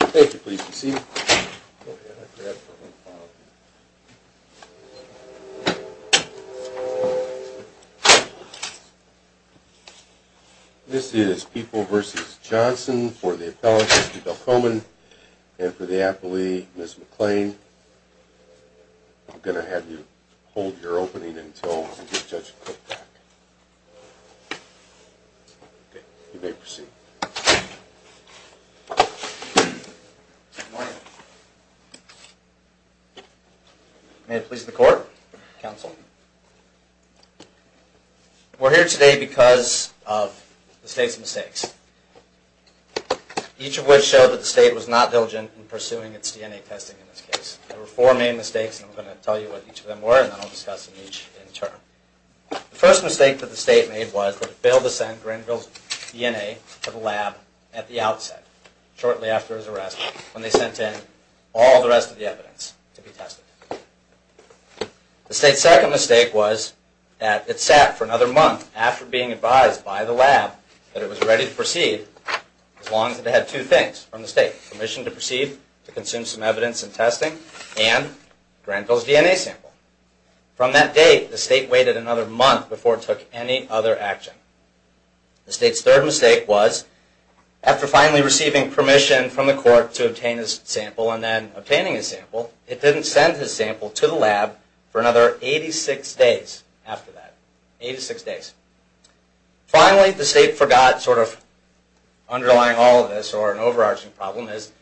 Thank you. Please be seated. This is people versus Johnson for the appellate. I'm going to have you hold your opening until you may proceed. Good morning. May it please the court, counsel. We're here today because of the state's mistakes. Each of which show that the state was not diligent in pursuing its DNA testing in this case. There were four main mistakes and I'm going to tell you what each of them were and then I'll discuss them each in turn. The first mistake that the state made was that it failed to send Grenville's DNA to the lab at the outset, shortly after his arrest, when they sent in all the rest of the evidence to be tested. The state's second mistake was that it sat for another month after being advised by the lab that it was ready to proceed as long as it had two things from the state. Permission to proceed, to consume some evidence and testing, and Grenville's DNA sample. From that date, the state waited another month before it took any other action. The state's third mistake was, after finally receiving permission from the court to obtain his sample and then obtaining his sample, it didn't send his sample to the lab for another 86 days after that. Finally, the state forgot, sort of underlying all of this or an overarching problem is,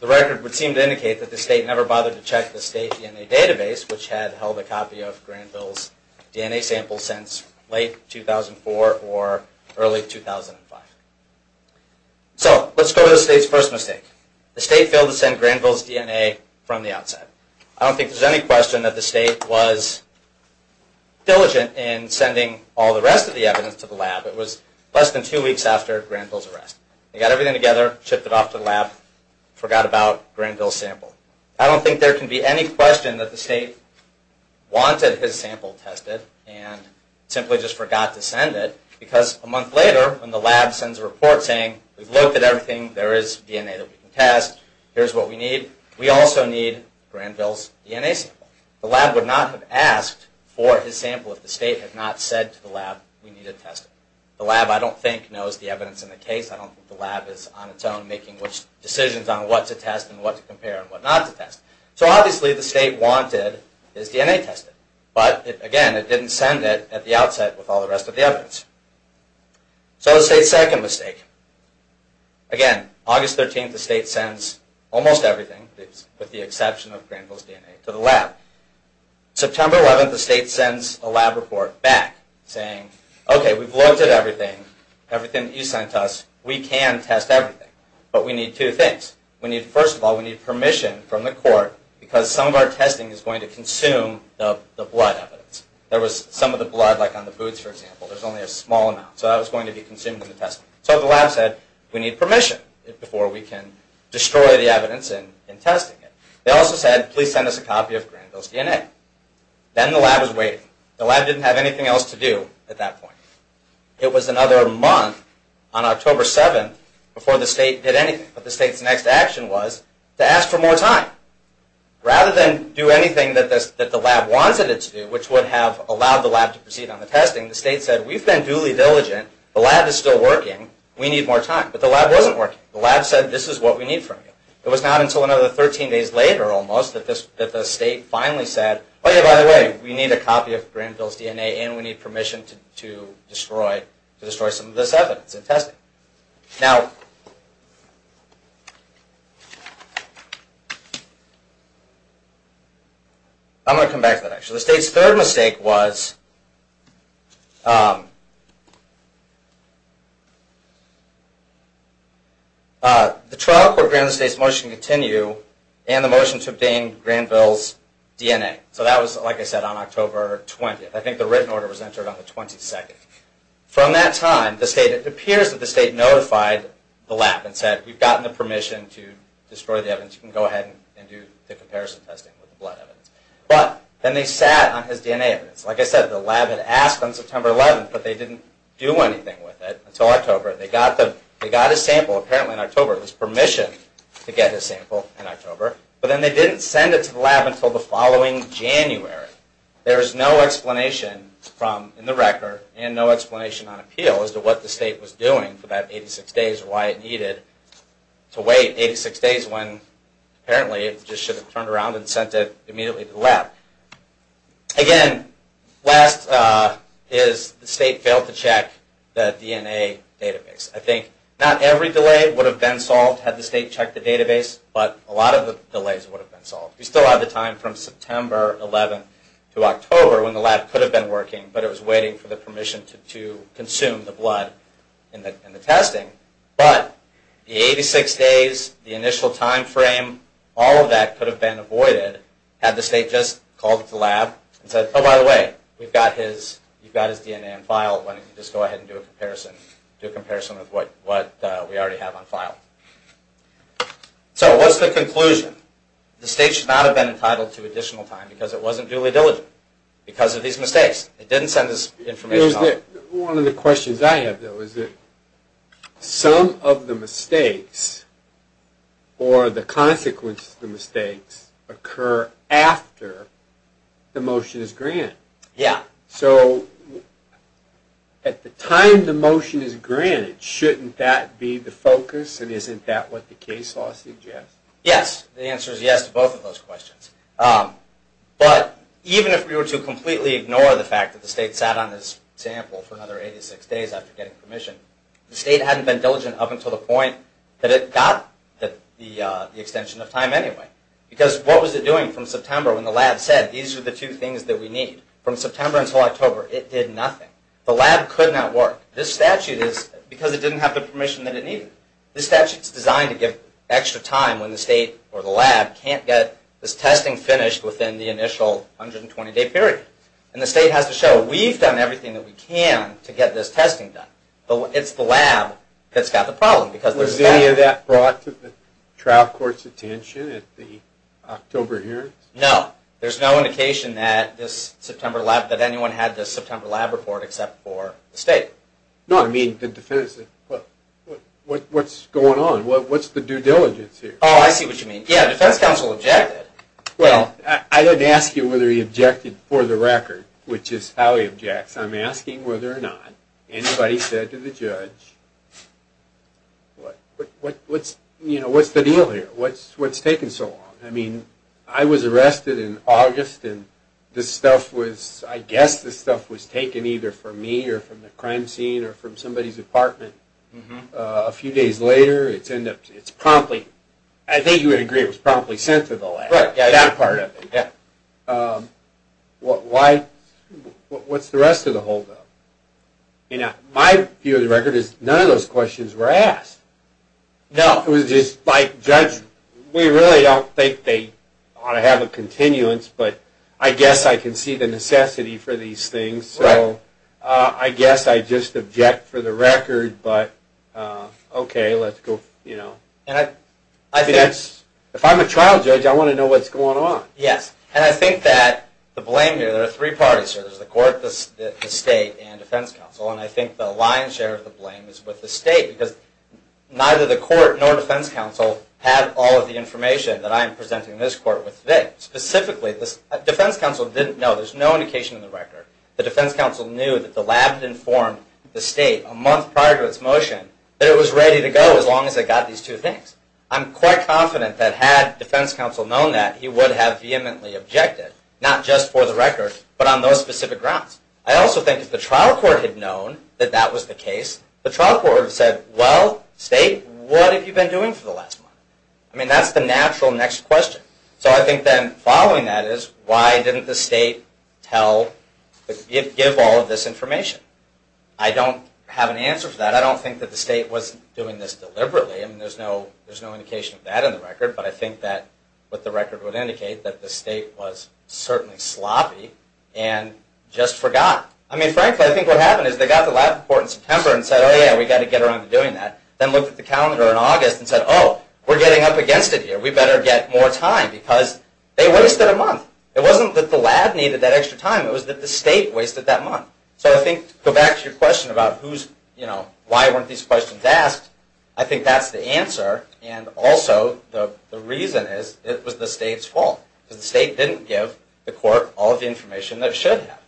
the record would seem to indicate that the state never bothered to check the state's DNA database, which had held a copy of Grenville's DNA sample since late 2004 or early 2005. So, let's go to the state's first mistake. The state failed to send Grenville's DNA from the outset. I don't think there's any question that the state was diligent in sending all the rest of the evidence to the lab. It was less than two weeks after Grenville's arrest. They got everything together, shipped it off to the lab, forgot about Grenville's sample. I don't think there can be any question that the state wanted his sample tested and simply just forgot to send it, because a month later, when the lab sends a report saying, we've looked at everything, there is DNA that we can test, here's what we need. We also need Grenville's DNA sample. The lab would not have asked for his sample if the state had not said to the lab, we need it tested. The lab, I don't think, knows the evidence in the case. I don't think the lab is on its own making decisions on what to test and what to compare and what not to test. So, obviously, the state wanted his DNA tested. But, again, it didn't send it at the outset with all the rest of the evidence. So, the state's second mistake. Again, August 13th, the state sends almost everything, with the exception of Grenville's DNA, to the lab. September 11th, the state sends a lab report back saying, okay, we've looked at everything, everything that you sent us, we can test everything. But we need two things. First of all, we need permission from the court, because some of our testing is going to consume the blood evidence. There was some of the blood, like on the boots, for example, there's only a small amount. So that was going to be consumed in the testing. So the lab said, we need permission before we can destroy the evidence in testing it. They also said, please send us a copy of Grenville's DNA. Then the lab was waiting. The lab didn't have anything else to do at that point. It was another month on October 7th before the state did anything. But the state's next action was to ask for more time. Rather than do anything that the lab wanted it to do, which would have allowed the lab to proceed on the testing, the state said, we've been duly diligent. The lab is still working. We need more time. But the lab wasn't working. The lab said, this is what we need from you. It was not until another 13 days later almost that the state finally said, oh yeah, by the way, we need a copy of Grenville's DNA and we need permission to destroy some of this evidence in testing. Now, I'm going to come back to that. The state's third mistake was the trial court granted the state's motion to continue and the motion to obtain Grenville's DNA. So that was, like I said, on October 20th. I think the written order was entered on the 22nd. From that time, it appears that the state notified the lab and said, we've gotten the permission to destroy the evidence. You can go ahead and do the comparison testing with the blood evidence. But then they sat on his DNA evidence. Like I said, the lab had asked on September 11th, but they didn't do anything with it until October. They got his sample apparently in October. It was permission to get his sample in October. But then they didn't send it to the lab until the following January. There is no explanation in the record and no explanation on appeal as to what the state was doing for that 86 days or why it needed to wait 86 days when apparently it just should have turned around and sent it immediately to the lab. Again, last is the state failed to check the DNA database. I think not every delay would have been solved had the state checked the database, but a lot of the delays would have been solved. We still have the time from September 11th to October when the lab could have been working, but it was waiting for the permission to consume the blood in the testing. But the 86 days, the initial time frame, all of that could have been avoided had the state just called the lab and said, oh, by the way, you've got his DNA on file. Why don't you just go ahead and do a comparison with what we already have on file. So what's the conclusion? The state should not have been entitled to additional time because it wasn't duly diligent because of these mistakes. It didn't send us information. One of the questions I have, though, is that some of the mistakes or the consequences of the mistakes occur after the motion is granted. Yeah. So at the time the motion is granted, shouldn't that be the focus and isn't that what the case law suggests? Yes. The answer is yes to both of those questions. But even if we were to completely ignore the fact that the state sat on this sample for another 86 days after getting permission, the state hadn't been diligent up until the point that it got the extension of time anyway. Because what was it doing from September when the lab said these are the two things that we need? From September until October, it did nothing. The lab could not work. This statute is because it didn't have the permission that it needed. This statute is designed to give extra time when the state or the lab can't get this testing finished within the initial 120-day period. And the state has to show we've done everything that we can to get this testing done. But it's the lab that's got the problem. Was any of that brought to the trial court's attention at the October hearings? No. There's no indication that anyone had this September lab report except for the state. No, I mean the defense. What's going on? What's the due diligence here? Oh, I see what you mean. Yeah, the defense counsel objected. Well, I didn't ask you whether he objected for the record, which is how he objects. I'm asking whether or not anybody said to the judge, what's the deal here? What's taking so long? I mean, I was arrested in August, and this stuff was, I guess this stuff was taken either from me or from the crime scene or from somebody's apartment. A few days later, it's promptly, I think you would agree it was promptly sent to the lab. That part of it, yeah. Why, what's the rest of the holdup? My view of the record is none of those questions were asked. No. It was just like, judge, we really don't think they ought to have a continuance, but I guess I can see the necessity for these things. So I guess I just object for the record, but okay, let's go, you know. If I'm a trial judge, I want to know what's going on. Yes, and I think that the blame here, there are three parties here. There's the court, the state, and defense counsel. And I think the lion's share of the blame is with the state, because neither the court nor defense counsel had all of the information that I am presenting in this court with today. Specifically, defense counsel didn't know. There's no indication in the record. The defense counsel knew that the lab had informed the state a month prior to its motion that it was ready to go as long as it got these two things. I'm quite confident that had defense counsel known that, he would have vehemently objected, not just for the record, but on those specific grounds. I also think if the trial court had known that that was the case, the trial court would have said, well, state, what have you been doing for the last month? I mean, that's the natural next question. So I think then following that is, why didn't the state give all of this information? I don't have an answer for that. I don't think that the state was doing this deliberately. I mean, there's no indication of that in the record, but I think that what the record would indicate, that the state was certainly sloppy and just forgot. I mean, frankly, I think what happened is they got the lab report in September and said, oh, yeah, we've got to get around to doing that. Then looked at the calendar in August and said, oh, we're getting up against it here. We better get more time because they wasted a month. It wasn't that the lab needed that extra time. It was that the state wasted that month. So I think to go back to your question about why weren't these questions asked, I think that's the answer. And also the reason is it was the state's fault because the state didn't give the court all of the information that it should have.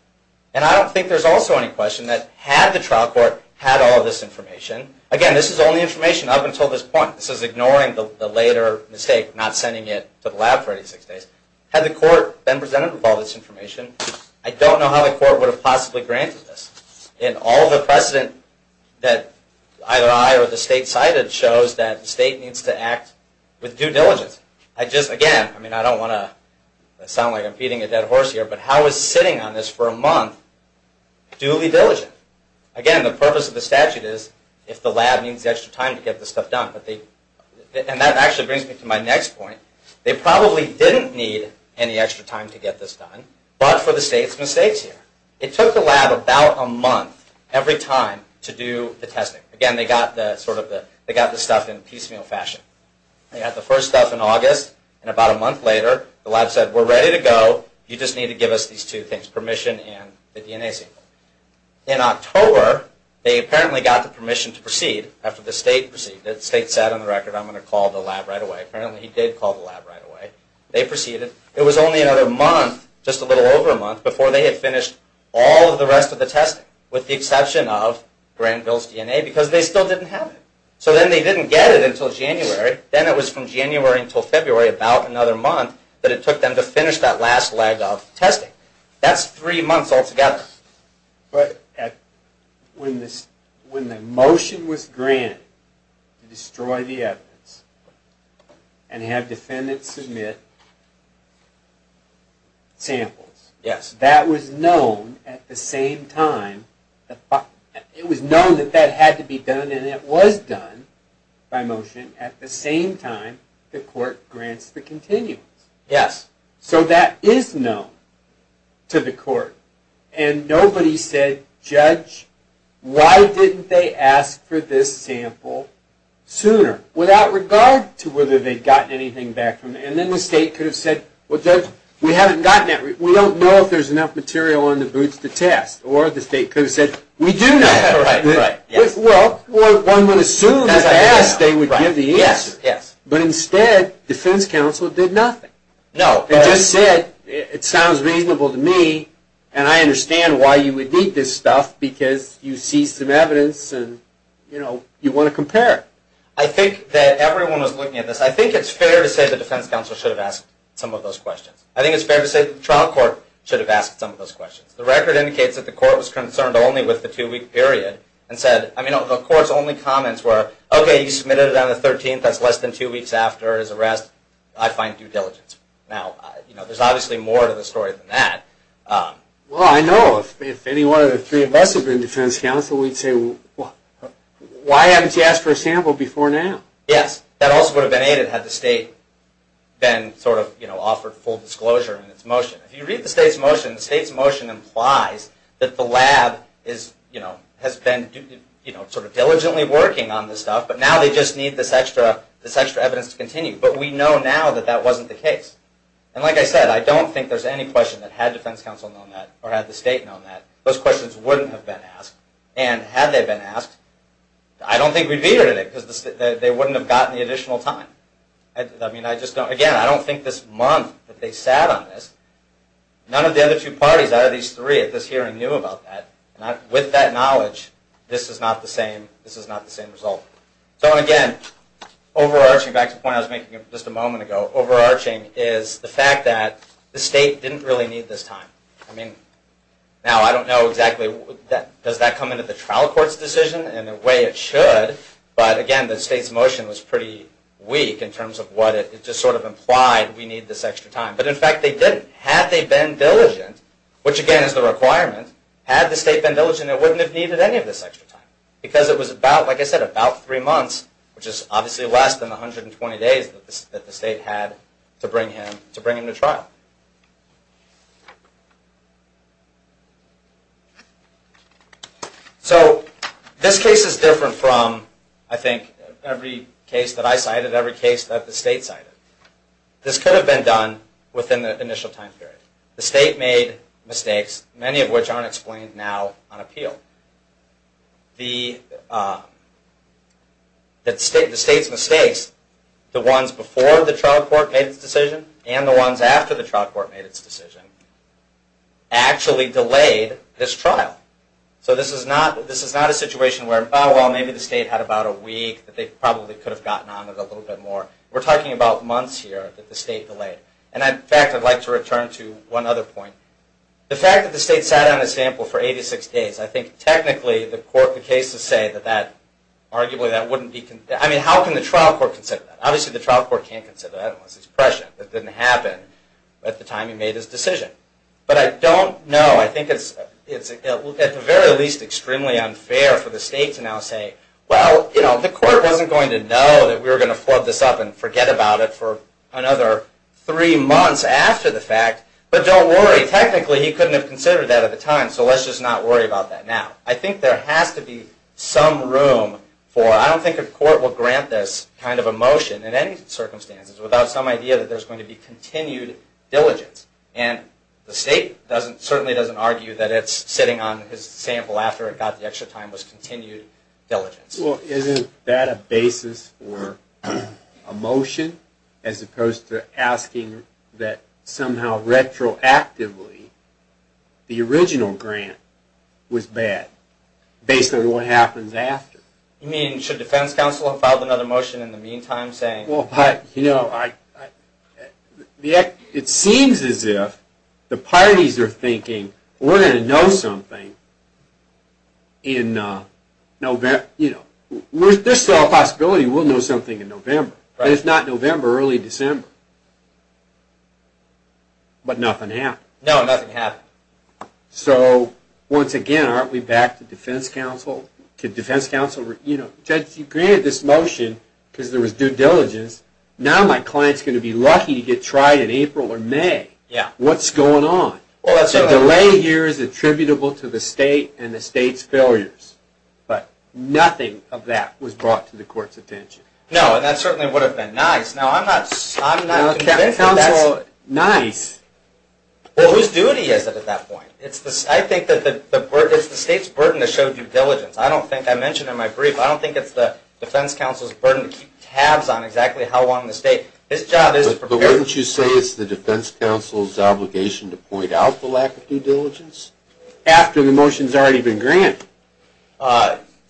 And I don't think there's also any question that had the trial court had all of this information, again, this is only information up until this point. This is ignoring the later mistake of not sending it to the lab for 86 days. Had the court been presented with all this information, I don't know how the court would have possibly granted this. And all the precedent that either I or the state cited shows that the state needs to act with due diligence. Again, I don't want to sound like I'm feeding a dead horse here, but how is sitting on this for a month duly diligent? Again, the purpose of the statute is if the lab needs extra time to get this stuff done. And that actually brings me to my next point. They probably didn't need any extra time to get this done, but for the state's mistakes here. It took the lab about a month every time to do the testing. Again, they got the stuff in piecemeal fashion. They got the first stuff in August, and about a month later the lab said, we're ready to go, you just need to give us these two things, permission and the DNA sample. In October, they apparently got the permission to proceed after the state proceeded. The state said on the record, I'm going to call the lab right away. Apparently he did call the lab right away. They proceeded. It was only another month, just a little over a month, before they had finished all of the rest of the testing. With the exception of Granville's DNA, because they still didn't have it. So then they didn't get it until January. Then it was from January until February, about another month, that it took them to finish that last leg of testing. That's three months altogether. But when the motion was granted to destroy the evidence and have defendants submit samples, that was known at the same time, it was known that that had to be done and it was done by motion, at the same time the court grants the continuance. Yes. So that is known to the court. And nobody said, Judge, why didn't they ask for this sample sooner? Without regard to whether they'd gotten anything back from it. And then the state could have said, well Judge, we haven't gotten it. We don't know if there's enough material on the boots to test. Or the state could have said, we do know. Right, right. Well, one would assume as asked they would give the answer. Yes, yes. But instead, defense counsel did nothing. No. They just said, it sounds reasonable to me and I understand why you would need this stuff because you see some evidence and you want to compare it. I think that everyone was looking at this. I think it's fair to say the defense counsel should have asked some of those questions. I think it's fair to say the trial court should have asked some of those questions. The record indicates that the court was concerned only with the two-week period and said, I mean, the court's only comments were, okay, you submitted it on the 13th. That's less than two weeks after his arrest. I find due diligence. Now, there's obviously more to the story than that. Well, I know. If any one of the three of us had been defense counsel, we'd say, why haven't you asked for a sample before now? Yes. That also would have been aided had the state been sort of offered full disclosure in its motion. If you read the state's motion, the state's motion implies that the lab has been sort of diligently working on this stuff, but now they just need this extra evidence to continue. But we know now that that wasn't the case. And like I said, I don't think there's any question that had defense counsel known that or had the state known that, those questions wouldn't have been asked. And had they been asked, I don't think we'd be here today because they wouldn't have gotten the additional time. Again, I don't think this month that they sat on this, none of the other two parties out of these three at this hearing knew about that. With that knowledge, this is not the same result. So, again, overarching, back to the point I was making just a moment ago, overarching is the fact that the state didn't really need this time. Now, I don't know exactly, does that come into the trial court's decision? In a way, it should. But, again, the state's motion was pretty weak in terms of what it just sort of implied, we need this extra time. But, in fact, they didn't. Had they been diligent, which, again, is the requirement, had the state been diligent, it wouldn't have needed any of this extra time. Because it was about, like I said, about three months, which is obviously less than the 120 days that the state had to bring him to trial. So, this case is different from, I think, every case that I cited, every case that the state cited. This could have been done within the initial time period. The state made mistakes, many of which aren't explained now on appeal. The state's mistakes, the ones before the trial court made the decision, and the ones after the trial court made the decision, actually delayed this trial. So, this is not a situation where, oh, well, maybe the state had about a week that they probably could have gotten on with a little bit more. We're talking about months here that the state delayed. And, in fact, I'd like to return to one other point. The fact that the state sat on a sample for 86 days, I think, technically, the cases say that, arguably, that wouldn't be... I mean, how can the trial court consider that? Obviously, the trial court can't consider that unless it's prescient. That didn't happen at the time he made his decision. But I don't know. I think it's, at the very least, extremely unfair for the state to now say, well, you know, the court wasn't going to know that we were going to flub this up and forget about it for another three months after the fact. But don't worry. Technically, he couldn't have considered that at the time, so let's just not worry about that now. I think there has to be some room for... I don't think a court will grant this kind of a motion in any circumstances without some idea that there's going to be continued diligence. And the state certainly doesn't argue that it's sitting on his sample after it got the extra time was continued diligence. Well, isn't that a basis for a motion as opposed to asking that somehow retroactively the original grant was bad based on what happens after? You mean, should defense counsel have filed another motion in the meantime saying... Well, you know, it seems as if the parties are thinking, we're going to know something in November. There's still a possibility we'll know something in November, but it's not November, early December. But nothing happened. No, nothing happened. So, once again, aren't we back to defense counsel? Judge, you granted this motion because there was due diligence. Now my client's going to be lucky to get tried in April or May. What's going on? The delay here is attributable to the state and the state's failures, but nothing of that was brought to the court's attention. No, and that certainly would have been nice. Now, I'm not convinced that that's... No, defense counsel, nice. Well, whose duty is it at that point? I think it's the state's burden to show due diligence. I mentioned in my brief, I don't think it's the defense counsel's burden to keep tabs on exactly how long the state... But wouldn't you say it's the defense counsel's obligation to point out the lack of due diligence after the motion's already been granted?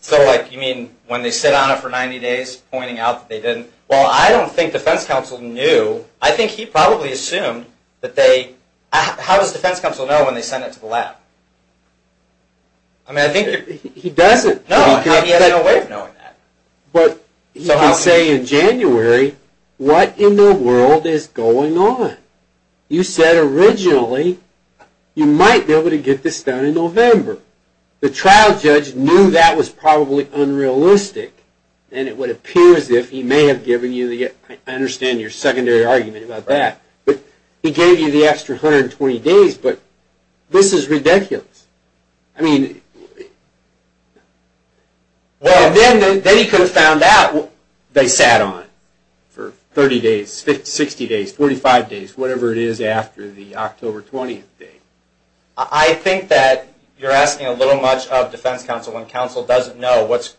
So, like, you mean when they sit on it for 90 days, pointing out that they didn't? Well, I don't think defense counsel knew. I think he probably assumed that they... How does defense counsel know when they send it to the lab? I mean, I think... He doesn't. No, he has no way of knowing that. But you can say in January, what in the world is going on? You said originally you might be able to get this done in November. The trial judge knew that was probably unrealistic, and it would appear as if he may have given you the... I understand your secondary argument about that, but he gave you the extra 120 days, but this is ridiculous. I mean... Well, then he could have found out. They sat on it for 30 days, 60 days, 45 days, whatever it is after the October 20th date. I think that you're asking a little much of defense counsel when counsel doesn't know what's...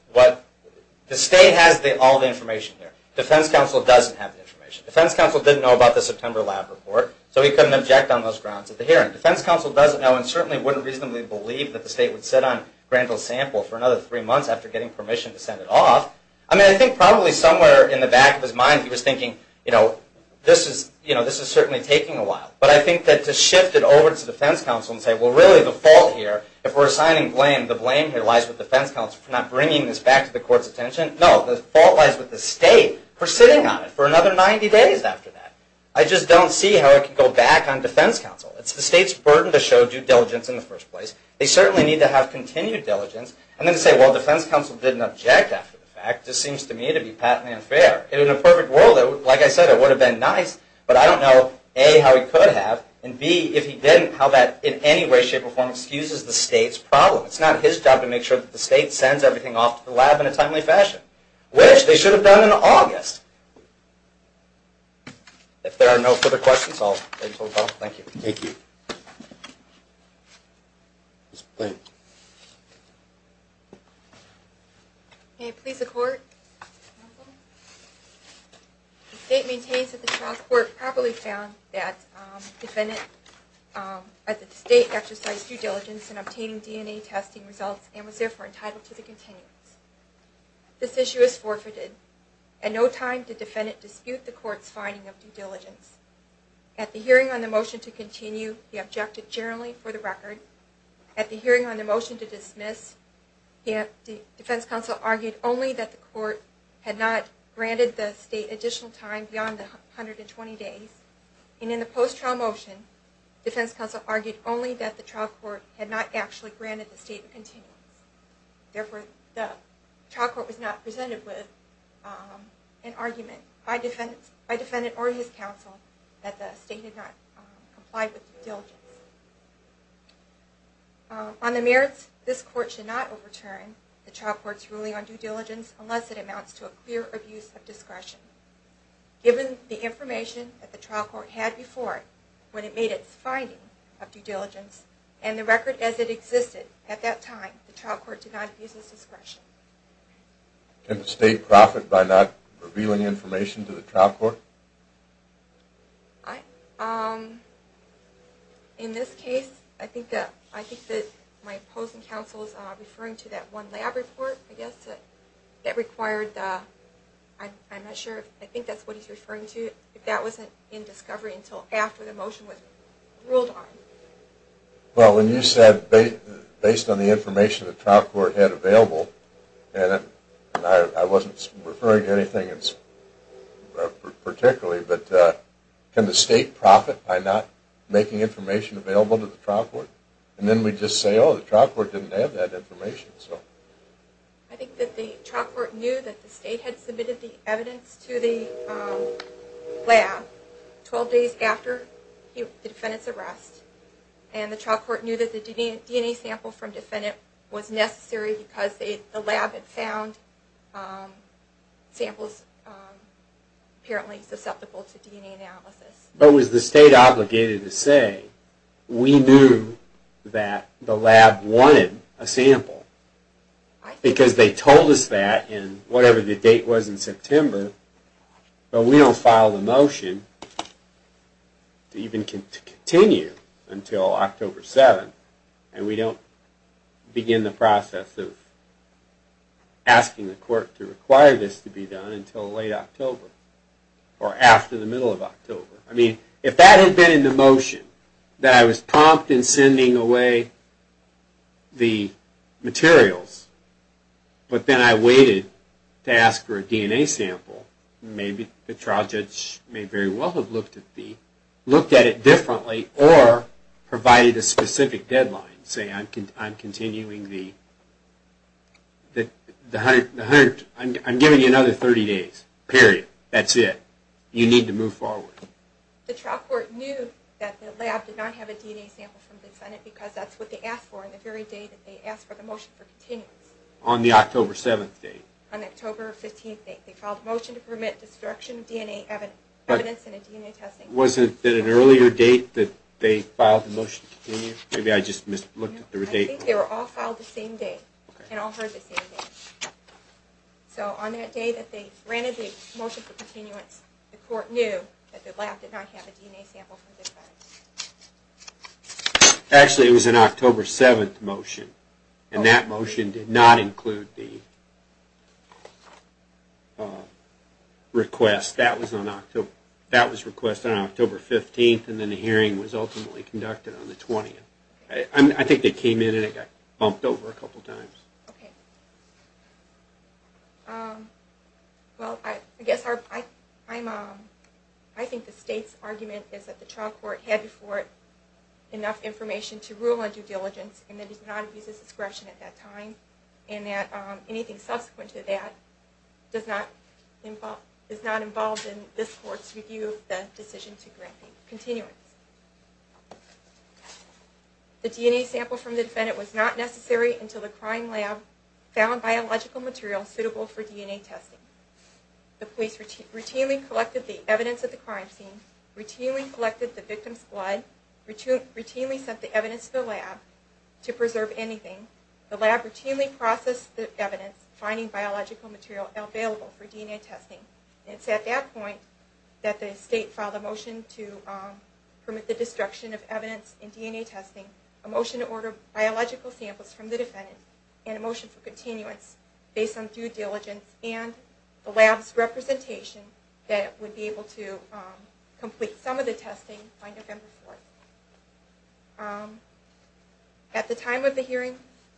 Defense counsel doesn't have the information. Defense counsel didn't know about the September lab report, so he couldn't object on those grounds at the hearing. Defense counsel doesn't know and certainly wouldn't reasonably believe that the state would sit on Grandville's sample for another three months after getting permission to send it off. I mean, I think probably somewhere in the back of his mind, he was thinking, you know, this is certainly taking a while. But I think that to shift it over to defense counsel and say, well, really the fault here, if we're assigning blame, the blame here lies with defense counsel for not bringing this back to the court's attention. No, the fault lies with the state for sitting on it for another 90 days after that. I just don't see how it could go back on defense counsel. It's the state's burden to show due diligence in the first place. They certainly need to have continued diligence. And then to say, well, defense counsel didn't object after the fact just seems to me to be patently unfair. In a perfect world, like I said, it would have been nice, but I don't know, A, how he could have, and B, if he didn't, how that in any way, shape, or form excuses the state's problem. It's not his job to make sure that the state sends everything off to the lab in a timely fashion, which they should have done in August. If there are no further questions, I'll end the call. Thank you. Thank you. May it please the court. The state maintains that the trial court properly found that the defendant at the state exercised due diligence in obtaining DNA testing results and was therefore entitled to the continuance. This issue is forfeited. At no time did defendant dispute the court's finding of due diligence. At the hearing on the motion to continue, he objected generally for the record. At the hearing on the motion to dismiss, the defense counsel argued only that the court had not granted the state additional time beyond the 120 days. And in the post-trial motion, defense counsel argued only that the trial court had not actually granted the state the continuance. Therefore, the trial court was not presented with an argument by defendant or his counsel that the state had not complied with due diligence. On the merits, this court should not overturn the trial court's ruling on due diligence unless it amounts to a clear abuse of discretion. Given the information that the trial court had before it when it made its finding of due diligence, and the record as it existed at that time, the trial court did not abuse its discretion. Can the state profit by not revealing information to the trial court? In this case, I think that my opposing counsel is referring to that one lab report, I guess, that required the, I'm not sure, I think that's what he's referring to. That wasn't in discovery until after the motion was ruled on. Well, when you said based on the information the trial court had available, and I wasn't referring to anything particularly, but can the state profit by not making information available to the trial court? And then we just say, oh, the trial court didn't have that information. I think that the trial court knew that the state had submitted the evidence to the lab 12 days after the defendant's arrest, and the trial court knew that the DNA sample from the defendant was necessary because the lab had found samples apparently susceptible to DNA analysis. But was the state obligated to say, we knew that the lab wanted a sample? Because they told us that in whatever the date was in September, but we don't file the motion to even continue until October 7th, and we don't begin the process of asking the court to require this to be done until late October, or after the middle of October. I mean, if that had been in the motion, that I was prompt in sending away the materials, but then I waited to ask for a DNA sample, maybe the trial judge may very well have looked at it differently, or provided a specific deadline, say, I'm giving you another 30 days, period. That's it. You need to move forward. The trial court knew that the lab did not have a DNA sample from the defendant because that's what they asked for on the very day that they asked for the motion for continuance. On the October 7th date? On the October 15th date. They filed a motion to permit destruction of DNA evidence in a DNA testing lab. Was it at an earlier date that they filed the motion to continue? Maybe I just looked at the date wrong. I think they were all filed the same day, and all heard the same date. So on that day that they granted the motion for continuance, the court knew that the lab did not have a DNA sample from the defendant. Actually, it was an October 7th motion, and that motion did not include the request. That was requested on October 15th, and then the hearing was ultimately conducted on the 20th. I think they came in and it got bumped over a couple of times. Okay. Well, I think the state's argument is that the trial court had before it enough information to rule on due diligence, and that it did not abuse its discretion at that time, and that anything subsequent to that is not involved in this court's review of the decision to grant continuance. The DNA sample from the defendant was not necessary until the crime lab found biological material suitable for DNA testing. The police routinely collected the evidence at the crime scene, routinely collected the victim's blood, routinely sent the evidence to the lab to preserve anything. The lab routinely processed the evidence, finding biological material available for DNA testing. It's at that point that the state filed a motion to permit the destruction of evidence in DNA testing, a motion to order biological samples from the defendant, and a motion for continuance based on due diligence and the lab's representation that it would be able to complete some of the testing by November 4th. At the time of the hearing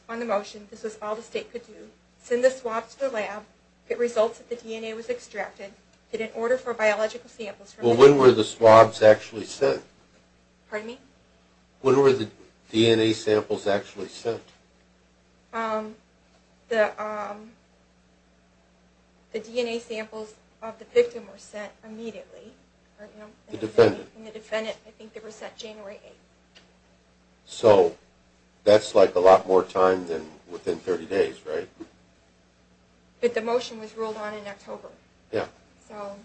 on the motion, this was all the state could do. Send the swab to the lab. If it results that the DNA was extracted, get an order for biological samples from the defendant. Well, when were the swabs actually sent? Pardon me? When were the DNA samples actually sent? The DNA samples of the victim were sent immediately. The defendant? The defendant, I think they were sent January 8th. So that's like a lot more time than within 30 days, right? But the motion was ruled on in October. Yeah. So,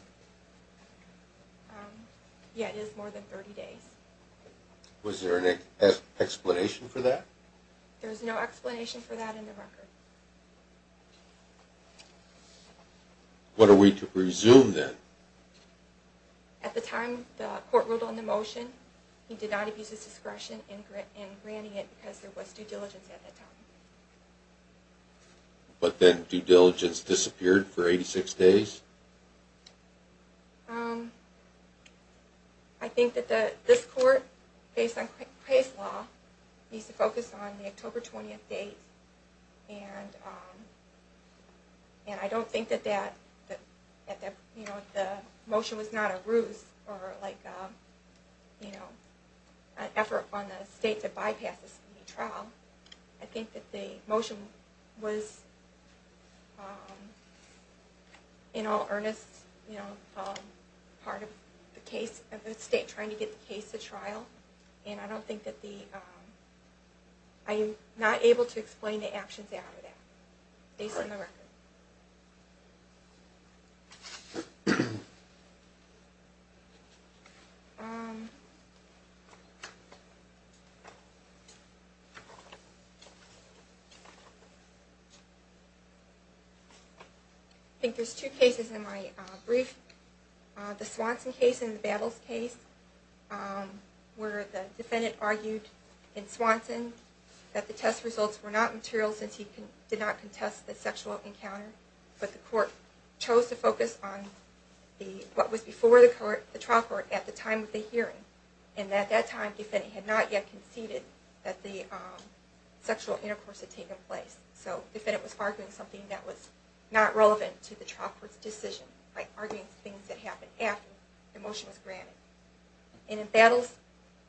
yeah, it is more than 30 days. Was there an explanation for that? There's no explanation for that in the record. What are we to presume then? At the time the court ruled on the motion, he did not abuse his discretion in granting it because there was due diligence at the time. But then due diligence disappeared for 86 days? I think that this court, based on Craig's law, needs to focus on the October 20th date, and I don't think that the motion was not a ruse or an effort on the state to bypass this trial. I think that the motion was, in all earnest, part of the state trying to get the case to trial. And I'm not able to explain the actions out of that, based on the record. I think there's two cases in my brief. The Swanson case and the Babels case, where the defendant argued in Swanson that the test results were not material since he did not contest the sexual encounter. But the court chose to focus on what was before the trial court at the time of the hearing. And at that time, the defendant had not yet conceded that the sexual intercourse had taken place. So the defendant was arguing something that was not relevant to the trial court's decision, like arguing things that happened after the motion was granted. And in Babels,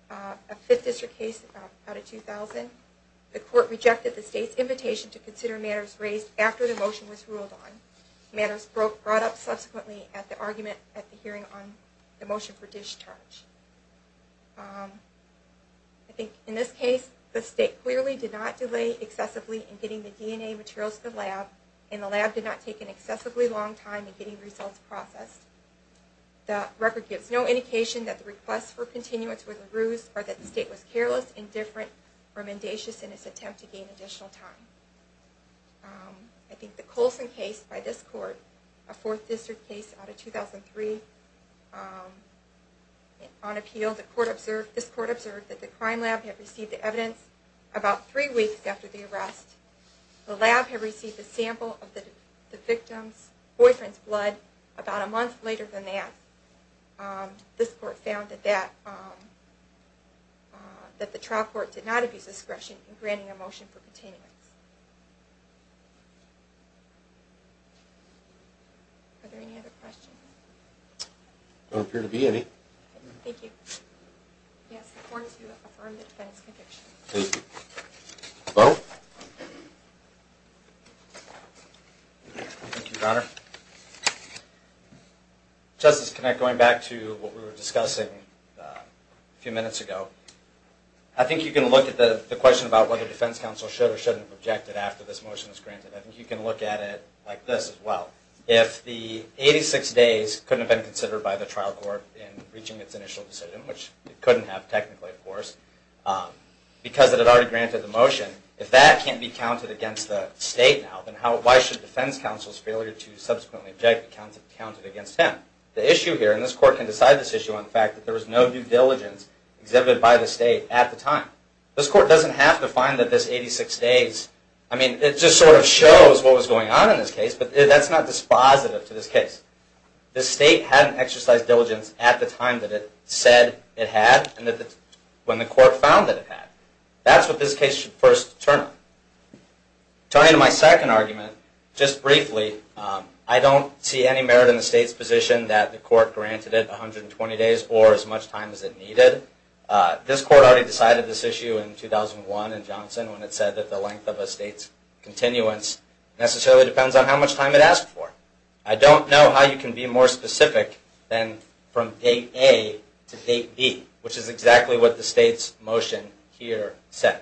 a Fifth District case out of 2000, the court rejected the state's invitation to consider matters raised after the motion was ruled on. Matters brought up subsequently at the argument at the hearing on the motion for discharge. I think in this case, the state clearly did not delay excessively in getting the DNA materials to the lab, and the lab did not take an excessively long time in getting results processed. The record gives no indication that the request for continuance was a ruse, or that the state was careless, indifferent, or mendacious in its attempt to gain additional time. I think the Colson case by this court, a Fourth District case out of 2003, on appeal, this court observed that the crime lab had received the evidence about three weeks after the arrest. The lab had received a sample of the victim's boyfriend's blood about a month later than that. This court found that the trial court did not abuse discretion in granting a motion for continuance. Are there any other questions? There don't appear to be any. Thank you. Yes, the court is to affirm the defense conviction. Thank you. Bo? Thank you, Your Honor. Justice Kinect, going back to what we were discussing a few minutes ago, I think you can look at the question about whether defense counsel should or shouldn't have objected after this motion was granted. I think you can look at it like this as well. If the 86 days couldn't have been considered by the trial court in reaching its initial decision, which it couldn't have technically, of course, because it had already granted the motion, if that can't be counted against the state now, then why should defense counsel's failure to subsequently object be counted against him? The issue here, and this court can decide this issue on the fact that there was no due diligence exhibited by the state at the time. This court doesn't have to find that this 86 days, I mean, it just sort of shows what was going on in this case, but that's not dispositive to this case. The state hadn't exercised diligence at the time that it said it had and when the court found that it had. That's what this case should first turn on. Turning to my second argument, just briefly, I don't see any merit in the state's position that the court granted it 120 days or as much time as it needed. This court already decided this issue in 2001 in Johnson when it said that the length of a state's continuance necessarily depends on how much time it asked for. I don't know how you can be more specific than from date A to date B, which is exactly what the state's motion here said.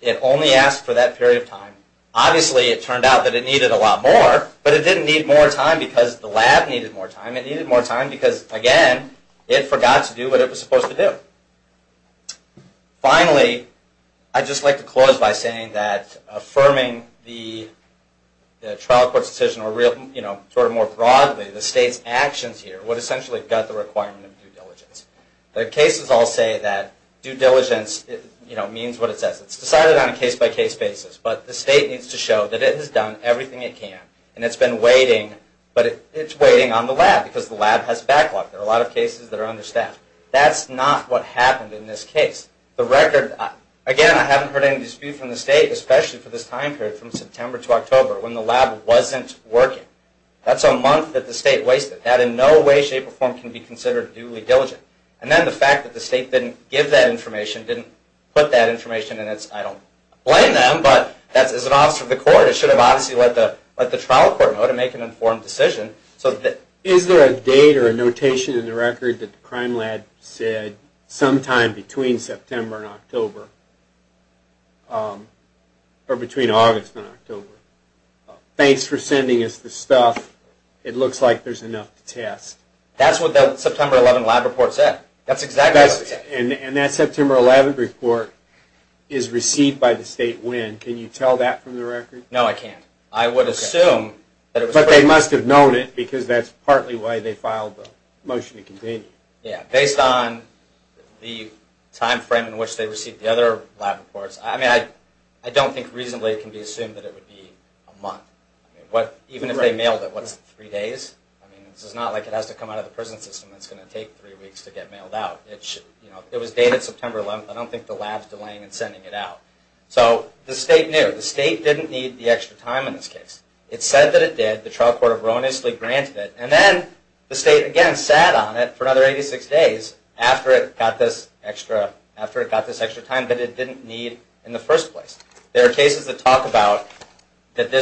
It only asked for that period of time. Obviously, it turned out that it needed a lot more, but it didn't need more time because the lab needed more time. It needed more time because, again, it forgot to do what it was supposed to do. Finally, I'd just like to close by saying that affirming the trial court's decision, or more broadly, the state's actions here, would essentially gut the requirement of due diligence. The cases all say that due diligence means what it says. It's decided on a case-by-case basis, but the state needs to show that it has done everything it can, and it's been waiting, but it's waiting on the lab because the lab has backlogged. There are a lot of cases that are understaffed. That's not what happened in this case. The record, again, I haven't heard any dispute from the state, especially for this time period from September to October when the lab wasn't working. That's a month that the state wasted. That in no way, shape, or form can be considered duly diligent. And then the fact that the state didn't give that information, didn't put that information in its, I don't blame them, but as an officer of the court, it should have obviously let the trial court know to make an informed decision. Is there a date or a notation in the record that the crime lab said sometime between September and October, or between August and October? Thanks for sending us this stuff. It looks like there's enough to test. That's what that September 11 lab report said. That's exactly what it said. And that September 11 report is received by the state when? Can you tell that from the record? No, I can't. I would assume. But they must have known it because that's partly why they filed the motion to continue. Yeah, based on the time frame in which they received the other lab reports. I mean, I don't think reasonably it can be assumed that it would be a month. Even if they mailed it, what's three days? I mean, this is not like it has to come out of the prison system. It's going to take three weeks to get mailed out. It was dated September 11. I don't think the lab's delaying in sending it out. So the state knew. The state didn't need the extra time in this case. It said that it did. The trial court erroneously granted it. And then the state, again, sat on it for another 86 days after it got this extra time that it didn't need in the first place. There are cases that talk about that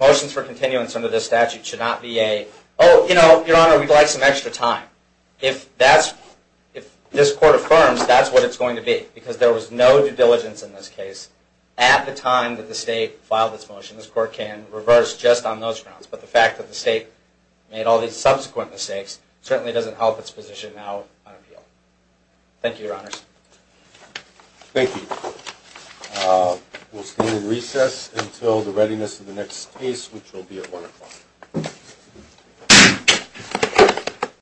motions for continuance under this statute should not be a, oh, your honor, we'd like some extra time. If this court affirms, that's what it's going to be. Because there was no due diligence in this case at the time that the state filed this motion. This court can reverse just on those grounds. But the fact that the state made all these subsequent mistakes certainly doesn't help its position now on appeal. Thank you, your honors. Thank you. We'll stand in recess until the readiness of the next case, which will be at 1 o'clock.